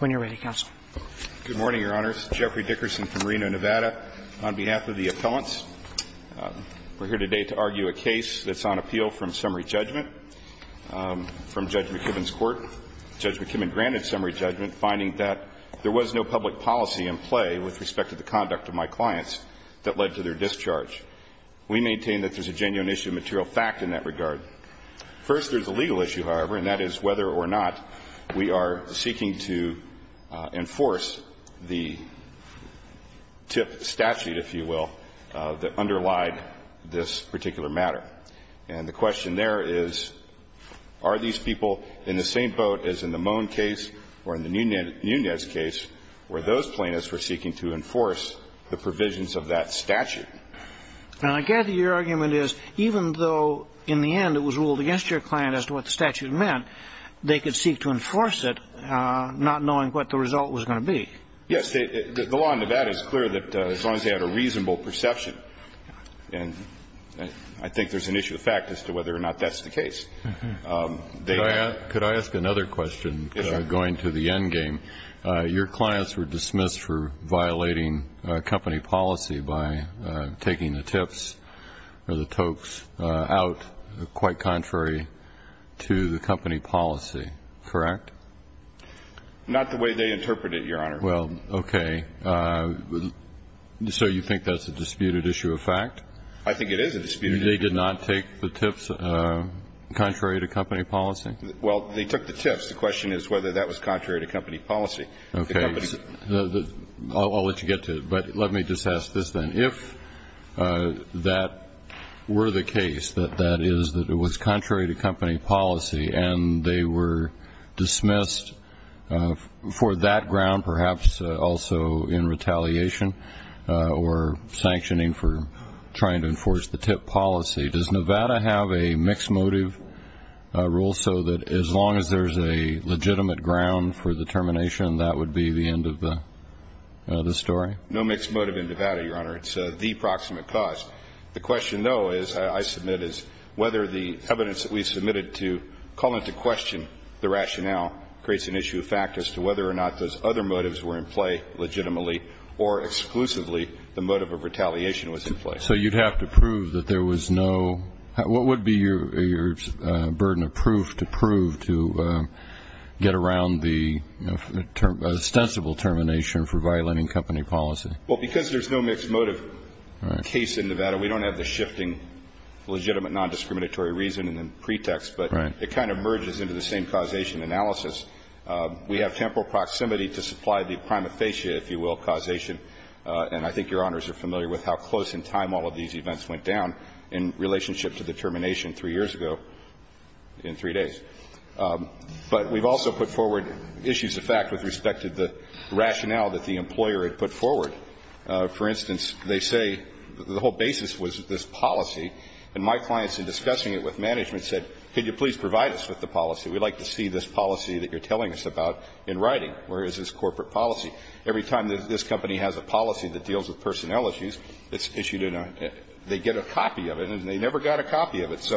When you're ready, Counsel. Good morning, Your Honors. Jeffrey Dickerson from Reno, Nevada. On behalf of the appellants, we're here today to argue a case that's on appeal from summary judgment from Judge McKibben's court. Judge McKibben granted summary judgment, finding that there was no public policy in play with respect to the conduct of my clients that led to their discharge. We maintain that there's a genuine issue of material fact in that regard. First, there's a legal issue, however, and that is whether or not we are seeking to enforce the TIP statute, if you will, that underlied this particular matter. And the question there is, are these people in the same boat as in the Moen case or in the Nunez case where those plaintiffs were seeking to enforce the provisions of that statute? And I gather your argument is, even though in the end it was ruled against your client as to what the statute meant, they could seek to enforce it not knowing what the result was going to be. Yes. The law in Nevada is clear that as long as they had a reasonable perception, and I think there's an issue of fact as to whether or not that's the case. Could I ask another question going to the endgame? Your clients were dismissed for violating company policy by taking the TIPs or the TOCs out, quite contrary to the company policy, correct? Not the way they interpreted it, Your Honor. Well, okay. So you think that's a disputed issue of fact? I think it is a disputed issue of fact. They did not take the TIPs contrary to company policy? Well, they took the TIPs. The question is whether that was contrary to company policy. Okay, I'll let you get to it, but let me just ask this then. If that were the case, that that is that it was contrary to company policy and they were dismissed for that ground, perhaps also in retaliation or sanctioning for trying to enforce the TIP policy, does Nevada have a mixed motive rule so that as long as there's a legitimate ground for the termination, that would be the end of the story? No mixed motive in Nevada, Your Honor. It's the proximate cause. The question, though, I submit is whether the evidence that we submitted to call into question the rationale creates an issue of fact as to whether or not those other motives were in play legitimately or exclusively the motive of retaliation was in play. So you'd have to prove that there was no – what would be your burden of proof to prove to get around the ostensible termination for violating company policy? Well, because there's no mixed motive case in Nevada, we don't have the shifting legitimate non-discriminatory reasoning and pretext, but it kind of merges into the same causation analysis. We have temporal proximity to supply the prima facie, if you will, causation, and I think Your Honors are familiar with how close in time all of these events went down in relationship to the termination three years ago in three days. But we've also put forward issues of fact with respect to the rationale that the employer had put forward. For instance, they say the whole basis was this policy, and my clients in discussing it with management said, could you please provide us with the policy? We'd like to see this policy that you're telling us about in writing. Where is this corporate policy? Every time that this company has a policy that deals with personnel issues, it's issued in a – they get a copy of it, and they never got a copy of it.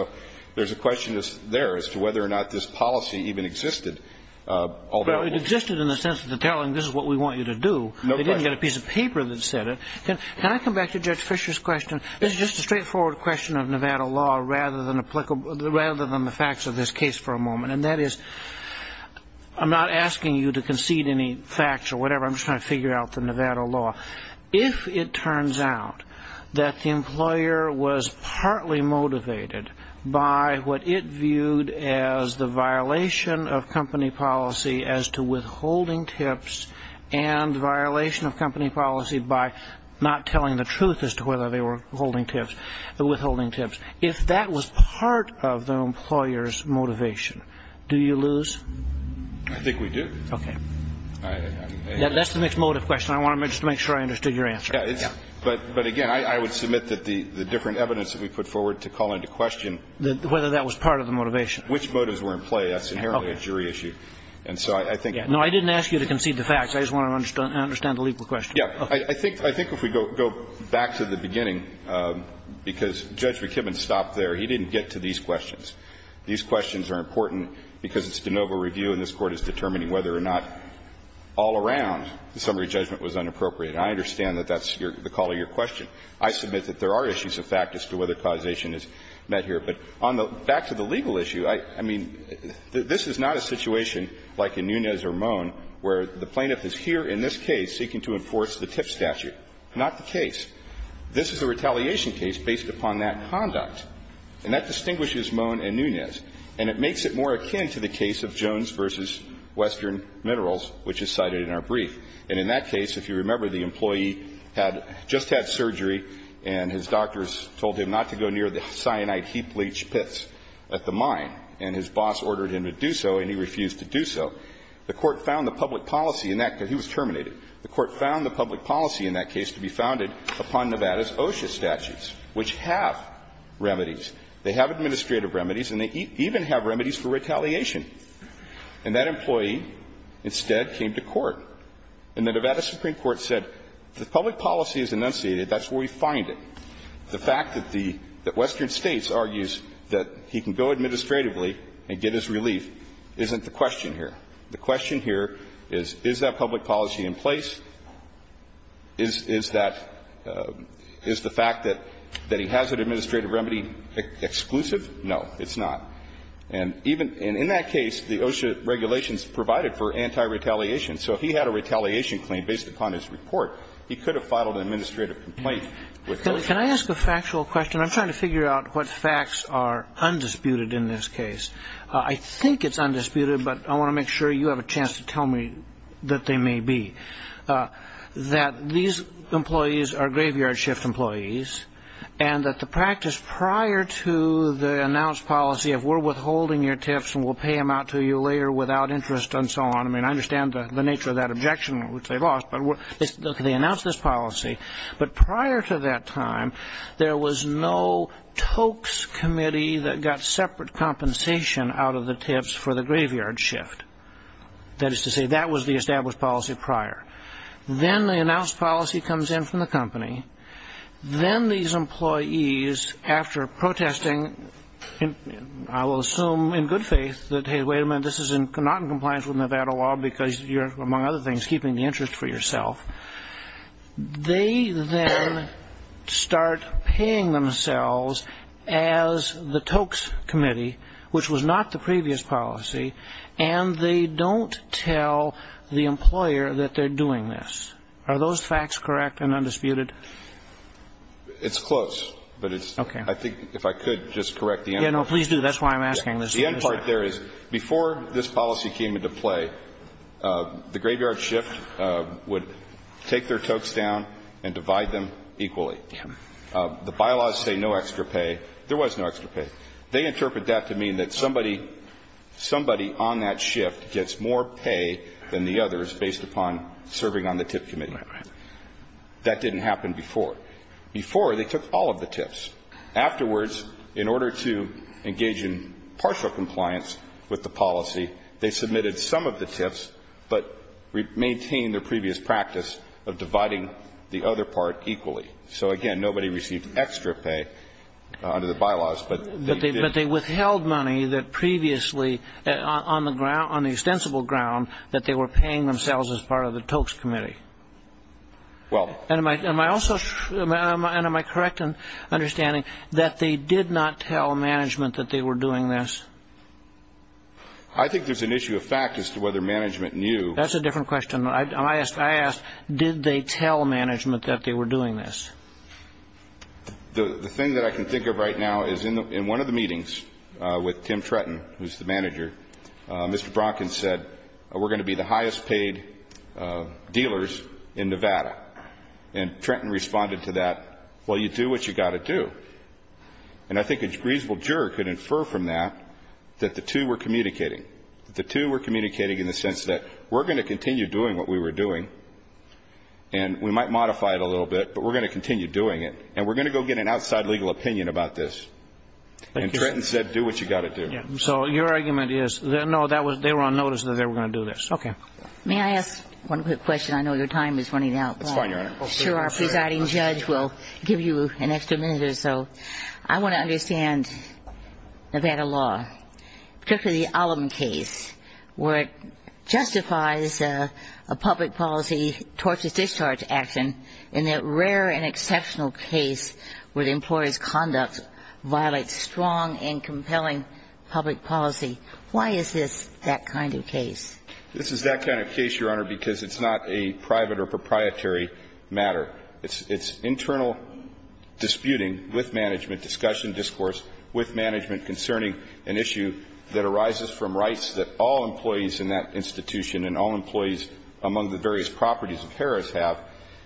There's a question there as to whether or not this policy even existed. Well, it existed in the sense of telling this is what we want you to do. They didn't get a piece of paper that said it. Can I come back to Judge Fisher's question? This is just a straightforward question of Nevada law rather than the facts of this case for a moment, and that is I'm not asking you to concede any facts or whatever. I'm just trying to figure out the Nevada law. If it turns out that the employer was partly motivated by what it viewed as the violation of company policy as to withholding tips and violation of company policy by not telling the truth as to whether they were withholding tips, if that was part of the employer's motivation, do you lose? I think we do. That's the mixed motive question. I want to just make sure I understood your answer. But again, I would submit that the different evidence that we put forward to call into question whether that was part of the motivation, which motives were in play, that's inherently a jury issue. And so I think – No, I didn't ask you to concede the facts. I just want to understand the legal question. Yeah. I think if we go back to the beginning, because Judge McKibben stopped there. He didn't get to these questions. These questions are important because it's de novo review, and this Court is determining whether or not all around the summary judgment was inappropriate. And I understand that that's your – the call to your question. I submit that there are issues of fact as to whether causation is met here. But on the – back to the legal issue, I mean, this is not a situation like in Nunez or Moen where the plaintiff is here in this case seeking to enforce the tip statute. Not the case. This is a retaliation case based upon that conduct, and that distinguishes Moen and Nunez. And it makes it more akin to the case of Jones v. Western Minerals, which is cited in our brief. And in that case, if you remember, the employee had – just had surgery, and his doctors told him not to go near the cyanide heap leach pits at the mine. And his boss ordered him to do so, and he refused to do so. The Court found the public policy in that – because he was terminated. The Court found the public policy in that case to be founded upon Nevada's OSHA statutes, which have remedies. They have administrative remedies, and they even have remedies for retaliation. And that employee instead came to court. And the Nevada Supreme Court said the public policy is enunciated. That's where we find it. The fact that the – that Western States argues that he can go administratively and get his relief isn't the question here. The question here is, is that public policy in place? Is that – is the fact that he has an administrative remedy exclusive? No, it's not. And even – and in that case, the OSHA regulations provided for anti-retaliation. So if he had a retaliation claim based upon his report, he could have filed an administrative complaint with OSHA. Can I ask a factual question? I'm trying to figure out what facts are undisputed in this case. I think it's undisputed, but I want to make sure you have a chance to tell me that they may be. That these employees are graveyard shift employees, and that the practice prior to the announced policy of we're withholding your tips and we'll pay them out to you later without interest and so on. I mean, I understand the nature of that objection, which they lost, but they announced this policy. But prior to that time, there was no tokes committee that got separate compensation out of the tips for the graveyard shift. That is to say, that was the established policy prior. Then the announced policy comes in from the company. Then these employees, after protesting, I will assume in good faith, that, hey, wait a minute, this is not in compliance with Nevada law because you're, among other things, keeping the interest for yourself. They then start paying themselves as the tokes committee, which was not the previous policy, and they don't tell the employer that they're doing this. Are those facts correct and undisputed? It's close, but it's, I think, if I could just correct the end. Yeah, no, please do. That's why I'm asking this. The end part there is, before this policy came into play, the graveyard shift would take their tokes down and divide them equally. The bylaws say no extra pay. There was no extra pay. They interpret that to mean that somebody on that shift gets more pay than the others based upon serving on the tip committee. That didn't happen before. Before, they took all of the tips. Afterwards, in order to engage in partial compliance with the policy, they submitted some of the tips but maintained their previous practice of dividing the other part equally. So, again, nobody received extra pay under the bylaws, but they did. But they withheld money that previously, on the extensible ground, that they were paying themselves as part of the tokes committee. Am I correct in understanding that they did not tell management that they were doing this? I think there's an issue of fact as to whether management knew. That's a different question. I asked, did they tell management that they were doing this? The thing that I can think of right now is in one of the meetings with Tim Trenton, who's the manager, Mr. Bronkin said, we're going to be the highest paid dealers in Nevada. And Trenton responded to that, well, you do what you got to do. And I think a reasonable juror could infer from that that the two were communicating. The two were communicating in the sense that we're going to continue doing what we were doing, and we might modify it a little bit, but we're going to continue doing it. And we're going to go get an outside legal opinion about this. And Trenton said, do what you got to do. So your argument is, no, they were on notice that they were going to do this. OK. May I ask one quick question? I know your time is running out. That's fine, Your Honor. Sure, our presiding judge will give you an extra minute or so. I want to understand Nevada law, particularly the Ollam case, where it justifies a public policy, tortious discharge action, in that rare and exceptional case where the employer's conduct violates strong and compelling public policy. Why is this that kind of case? This is that kind of case, Your Honor, because it's not a private or proprietary matter. It's internal disputing with management, discussion, discourse with management concerning an issue that arises from rights that all employees in that institution and all employees among the various properties of Harris have.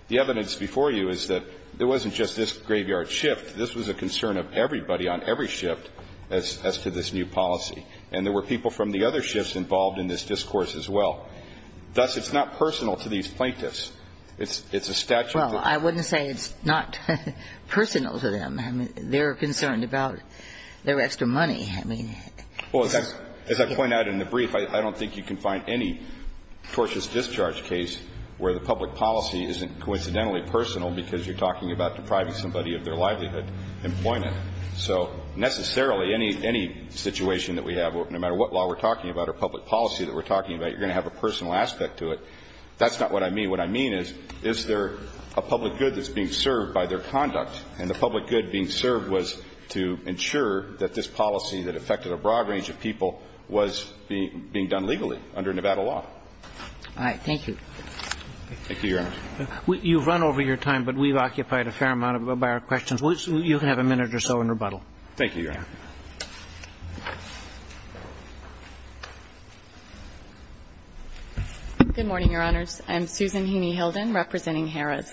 The evidence before you is that it wasn't just this graveyard shift. This was a concern of everybody on every shift as to this new policy. And there were people from the other shifts involved in this discourse as well. Thus, it's not personal to these plaintiffs. It's a statute of the law. Well, I wouldn't say it's not personal to them. They're concerned about the rest of money. I mean, it's a statute of the law. It's a tortious discharge case where the public policy isn't coincidentally personal because you're talking about depriving somebody of their livelihood employment. So necessarily, any situation that we have, no matter what law we're talking about or public policy that we're talking about, you're going to have a personal aspect to it. That's not what I mean. What I mean is, is there a public good that's being served by their conduct? And the public good being served was to ensure that this policy that affected a broad range of people was being done legally under Nevada law. All right. Thank you. Thank you, Your Honor. You've run over your time, but we've occupied a fair amount of our questions. You can have a minute or so in rebuttal. Thank you, Your Honor. Good morning, Your Honors. I'm Susan Heaney Hilden representing Harris.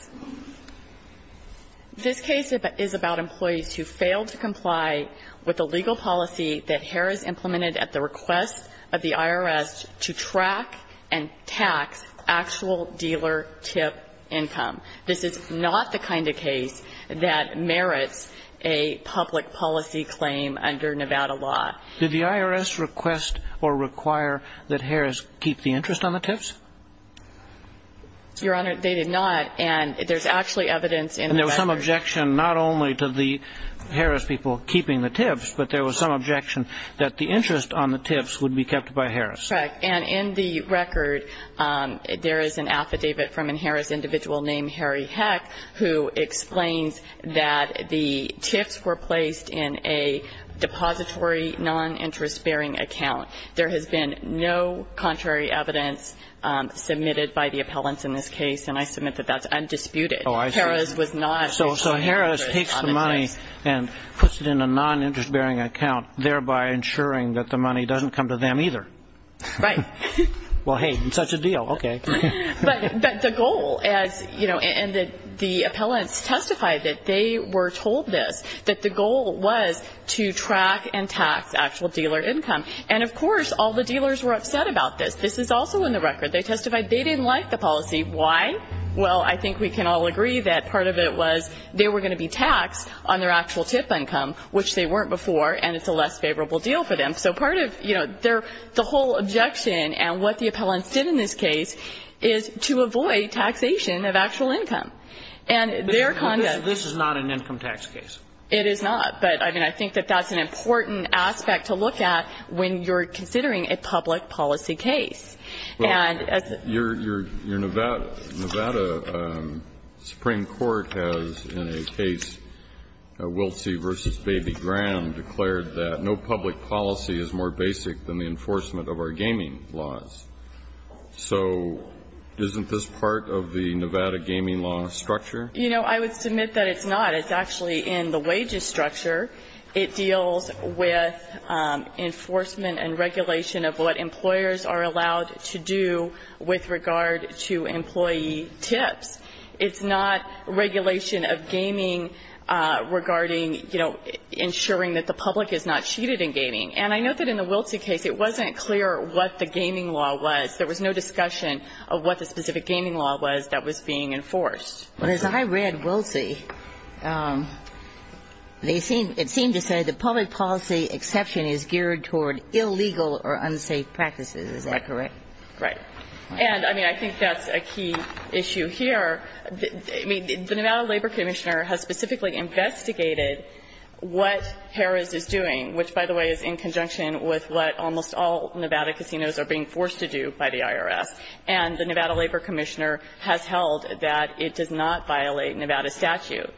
This case is about employees who failed to comply with the legal policy that Harris implemented at the request of the IRS to track and tax actual dealer tip income. This is not the kind of case that merits a public policy claim under Nevada law. Did the IRS request or require that Harris keep the interest on the tips? Your Honor, they did not. And there's actually evidence in the record. And there was some objection not only to the Harris people keeping the tips, but there was some objection that the interest on the tips would be kept by Harris. Correct. And in the record, there is an affidavit from a Harris individual named Harry Heck who explains that the tips were placed in a depository non-interest bearing account. There has been no contrary evidence submitted by the appellants in this case. And I submit that that's undisputed. Oh, I see. Harris was not. So Harris takes the money and puts it in a non-interest bearing account, thereby ensuring that the money doesn't come to them either. Right. Well, hey, it's such a deal. OK. But the goal, as you know, and the appellants testified that they were told this, that the goal was to track and tax actual dealer income. And of course, all the dealers were upset about this. This is also in the record. They testified they didn't like the policy. Why? Well, I think we can all agree that part of it was they were going to be taxed on their actual tip income, which they weren't before. And it's a less favorable deal for them. So part of the whole objection and what the appellants did in this case is to avoid taxation of actual income. And their conduct. This is not an income tax case. It is not. But I mean, I think that that's an important aspect to look at when you're considering a public policy case. Well, your Nevada Supreme Court has in a case, Wilsey v. Baby Graham, declared that no public policy is more basic than the enforcement of our gaming laws. So isn't this part of the Nevada gaming law structure? You know, I would submit that it's not. It's actually in the wages structure. It deals with enforcement and regulation of what employers are allowed to do with regard to employee tips. It's not regulation of gaming regarding, you know, ensuring that the public is not cheated in gaming. And I know that in the Wilsey case, it wasn't clear what the gaming law was. There was no discussion of what the specific gaming law was that was being enforced. Well, as I read Wilsey, it seemed to say the public policy exception is geared toward illegal or unsafe practices. Is that correct? Right. And I mean, I think that's a key issue here. I mean, the Nevada Labor Commissioner has specifically investigated what Harris is doing, which, by the way, is in conjunction with what almost all Nevada casinos are being forced to do by the IRS. And the Nevada Labor Commissioner has held that it does not violate Nevada statute.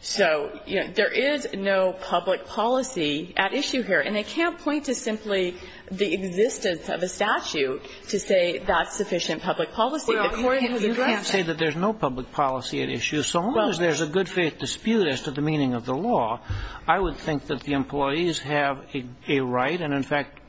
So, you know, there is no public policy at issue here. And I can't point to simply the existence of a statute to say that's sufficient public policy. Well, you can't say that there's no public policy at issue. So long as there's a good faith dispute as to the meaning of the law, I would think that the employees have a right, and in fact,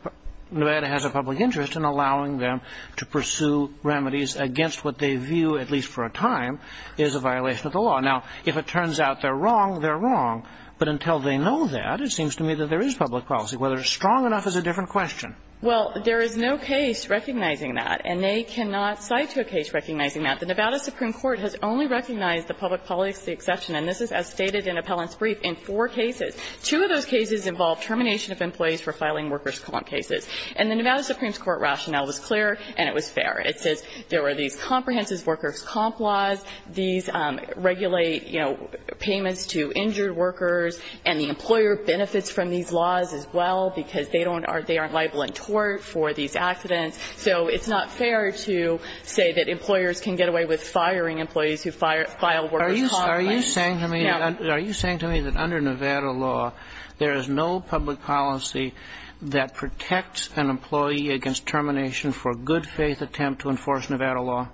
Nevada has a public interest in allowing them to pursue remedies against what they view, at least for a time, is a violation of the law. Now, if it turns out they're wrong, they're wrong. But until they know that, it seems to me that there is public policy. Whether it's strong enough is a different question. Well, there is no case recognizing that, and they cannot cite a case recognizing that. The Nevada Supreme Court has only recognized the public policy exception, and this is as stated in Appellant's brief, in four cases. Two of those cases involve termination of employees for filing workers' comp cases. And the Nevada Supreme Court rationale was clear and it was fair. It says there were these comprehensive workers' comp laws, these regulate, you know, payments to injured workers, and the employer benefits from these laws as well because they don't are they aren't liable in tort for these accidents. So it's not fair to say that employers can get away with firing employees who file workers' comp claims. Yeah. Are you saying to me that under Nevada law, there is no public policy that protects an employee against termination for good faith attempt to enforce Nevada law?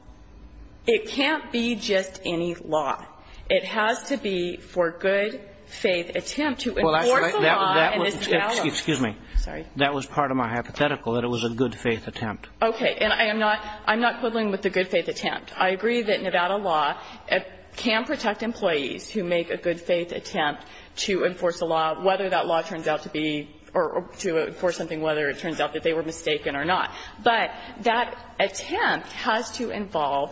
It can't be just any law. It has to be for good faith attempt to enforce a law and this is the element. Well, that's right. That was part of my hypothetical, that it was a good faith attempt. Okay. And I am not quibbling with the good faith attempt. I agree that Nevada law can protect employees who make a good faith attempt to enforce a law, whether that law turns out to be or to enforce something, whether it turns out that they were mistaken or not. But that attempt has to involve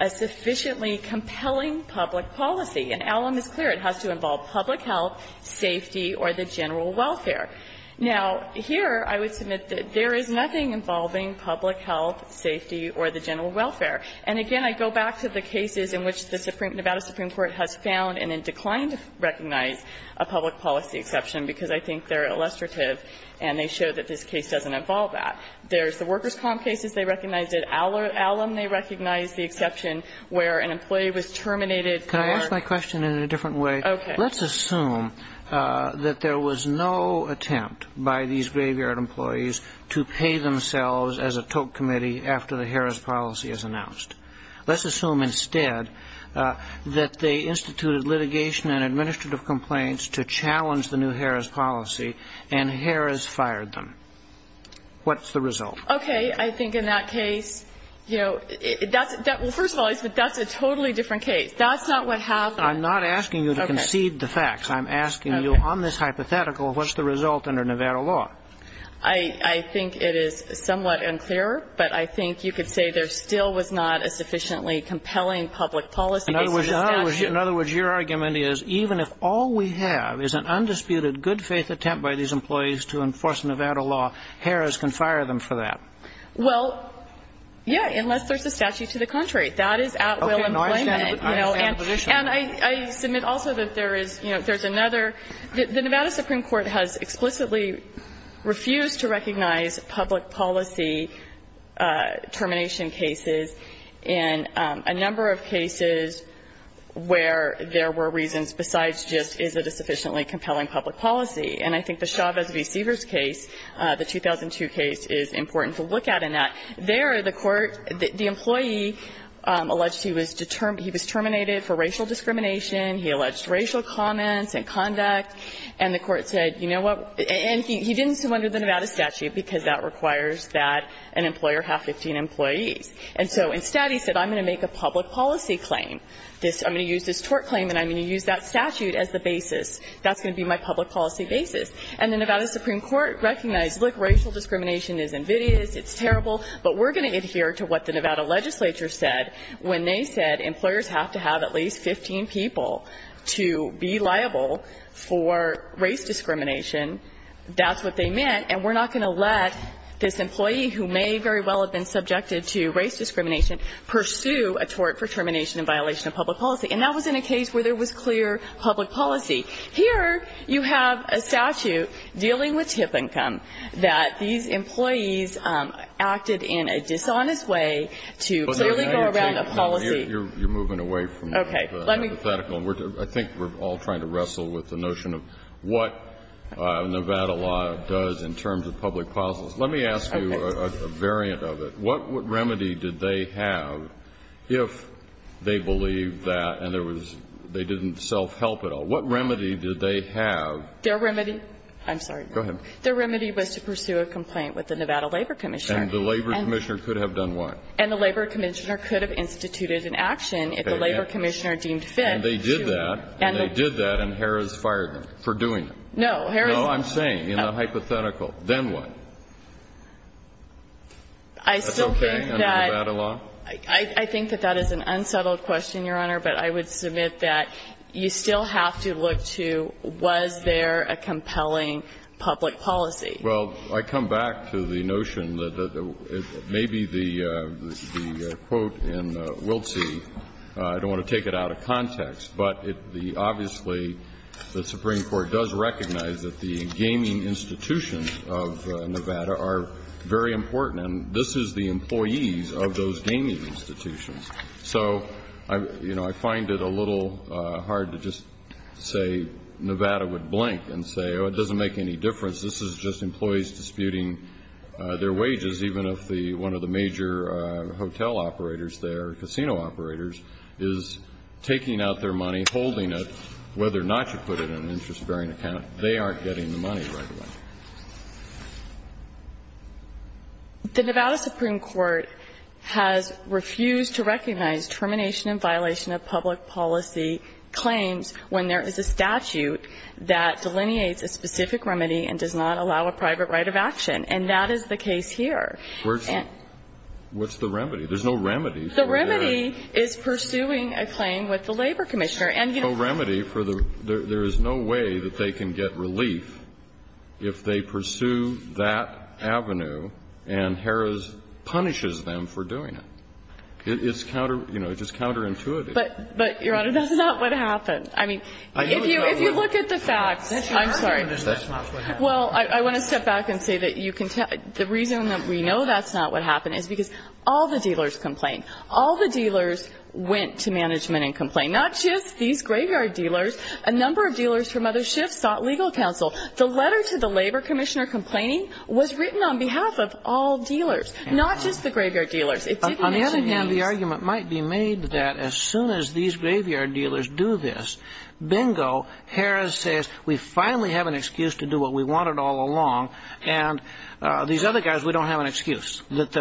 a sufficiently compelling public policy. And Allum is clear. It has to involve public health, safety or the general welfare. Now, here I would submit that there is nothing involving public health, safety or the general welfare. And again, I go back to the cases in which the Nevada Supreme Court has found and then declined to recognize a public policy exception, because I think they are illustrative and they show that this case doesn't involve that. There is the workers' comp cases they recognized it. Allum they recognized the exception where an employee was terminated for. Can I ask my question in a different way? Okay. Let's assume that there was no attempt by these graveyard employees to pay themselves as a toke committee after the Harrah's policy is announced. Let's assume instead that they instituted litigation and administrative complaints to challenge the new Harrah's policy and Harrah's fired them. What's the result? Okay. I think in that case, you know, first of all, that's a totally different case. That's not what happened. I'm not asking you to concede the facts. I'm asking you on this hypothetical, what's the result under Nevada law? I think it is somewhat unclear, but I think you could say there still was not a sufficiently compelling public policy. In other words, your argument is even if all we have is an undisputed good faith attempt by these employees to enforce Nevada law, Harrah's can fire them for that. Well, yeah, unless there's a statute to the contrary. That is at will employment. Okay. I understand the position. And I submit also that there is, you know, there's another the Nevada Supreme Court has explicitly refused to recognize public policy termination cases in a number of cases where there were reasons besides just is it a sufficiently compelling public policy. And I think the Chavez v. Seavers case, the 2002 case, is important to look at in that. There, the court, the employee alleged he was terminated for racial discrimination. He alleged racial comments and conduct. And the court said, you know what, and he didn't summon the Nevada statute because that requires that an employer have 15 employees. And so instead, he said, I'm going to make a public policy claim. I'm going to use this tort claim, and I'm going to use that statute as the basis. That's going to be my public policy basis. And the Nevada Supreme Court recognized, look, racial discrimination is invidious, it's terrible, but we're going to adhere to what the Nevada legislature said when they said employers have to have at least 15 people to be liable for a termination for race discrimination, that's what they meant, and we're not going to let this employee, who may very well have been subjected to race discrimination, pursue a tort for termination in violation of public policy. And that was in a case where there was clear public policy. Here, you have a statute dealing with tip income that these employees acted in a dishonest way to clearly go around a policy. Kennedy, you're moving away from the hypothetical. I think we're all trying to wrestle with the notion of what Nevada law does in terms of public policies. Let me ask you a variant of it. What remedy did they have if they believed that and there was they didn't self-help at all? What remedy did they have? Their remedy was to pursue a complaint with the Nevada Labor Commissioner. And the Labor Commissioner could have done what? And the Labor Commissioner could have instituted an action if the Labor Commissioner deemed fit. And they did that, and they did that, and Harris fired them for doing it. No, Harris wasn't. No, I'm saying, in the hypothetical, then what? That's okay under Nevada law? I think that that is an unsettled question, Your Honor, but I would submit that you still have to look to, was there a compelling public policy? Well, I come back to the notion that maybe the quote in Wiltsi, I don't want to take it out of context, but obviously, the Supreme Court does recognize that the gaming institutions of Nevada are very important. And this is the employees of those gaming institutions. So I find it a little hard to just say Nevada would blink and say, oh, it doesn't make any difference. This is just employees disputing their wages, even if one of the major hotel operators there, casino operators, is taking out their money, holding it, whether or not you put it in an interest-bearing account, they aren't getting the money right away. The Nevada Supreme Court has refused to recognize termination and violation of public policy claims when there is a statute that delineates a specific remedy and does not allow a private right of action. And that is the case here. What's the remedy? There's no remedy for that. The remedy is pursuing a claim with the labor commissioner. There's no remedy for the – there is no way that they can get relief if they pursue that avenue and Harris punishes them for doing it. It's counter – you know, it's just counterintuitive. But, Your Honor, that's not what happened. I mean, if you look at the facts, I'm sorry. Well, I want to step back and say that you can tell – the reason that we know that's not what happened is because all the dealers complained. All the dealers went to management and complained. Not just these graveyard dealers. A number of dealers from other shifts sought legal counsel. The letter to the labor commissioner complaining was written on behalf of all dealers, not just the graveyard dealers. It didn't mention these. On the other hand, the argument might be made that as soon as these graveyard dealers do this, bingo, Harris says, we finally have an excuse to do what we wanted all along, and these other guys, we don't have an excuse. That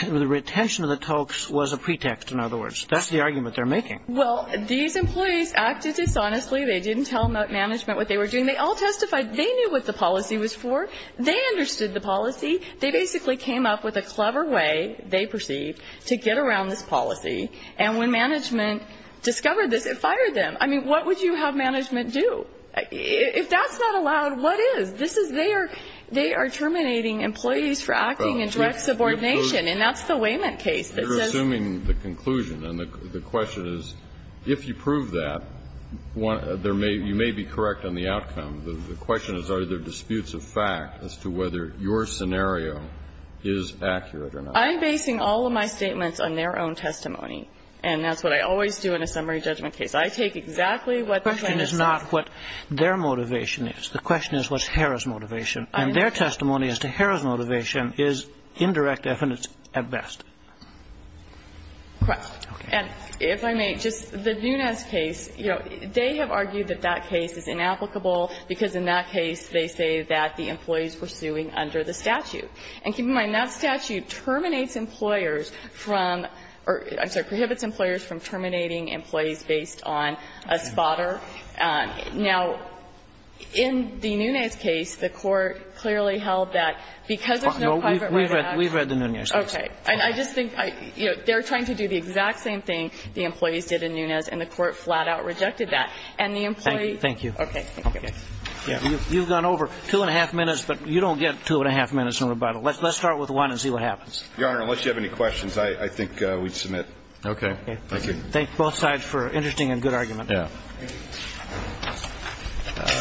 the retention of the tokes was a pretext, in other words. That's the argument they're making. Well, these employees acted dishonestly. They didn't tell management what they were doing. They all testified they knew what the policy was for. They understood the policy. They basically came up with a clever way, they perceived, to get around this policy. And when management discovered this, it fired them. I mean, what would you have management do? If that's not allowed, what is? This is their – they are terminating employees for acting in direct subordination. And that's the Wayman case that says – You're assuming the conclusion. And the question is, if you prove that, you may be correct on the outcome. The question is, are there disputes of fact as to whether your scenario is accurate or not? I'm basing all of my statements on their own testimony. And that's what I always do in a summary judgment case. I take exactly what the plaintiffs say. The question is not what their motivation is. The question is what's Harrah's motivation. And their testimony as to Harrah's motivation is indirect evidence at best. Correct. And if I may, just the Nunes case, you know, they have argued that that case is inapplicable because in that case they say that the employee is pursuing under the statute. And keep in mind, that statute terminates employers from – or I'm sorry, prohibits employers from terminating employees based on a spotter. Now, in the Nunes case, the Court clearly held that because there's no private way to act. We've read the Nunes case. Okay. And I just think, you know, they're trying to do the exact same thing the employees did in Nunes, and the Court flat-out rejected that. And the employee – Thank you. Okay. Okay. Okay. You've gone over 2-1⁄2 minutes, but you don't get 2-1⁄2 minutes in rebuttal. Let's start with one and see what happens. Your Honor, unless you have any questions, I think we'd submit. Okay. Thank you. Thank both sides for an interesting and good argument. Yeah. Thank you.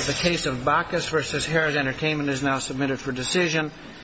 The case of Bacchus v. Harris Entertainment is now submitted for decision.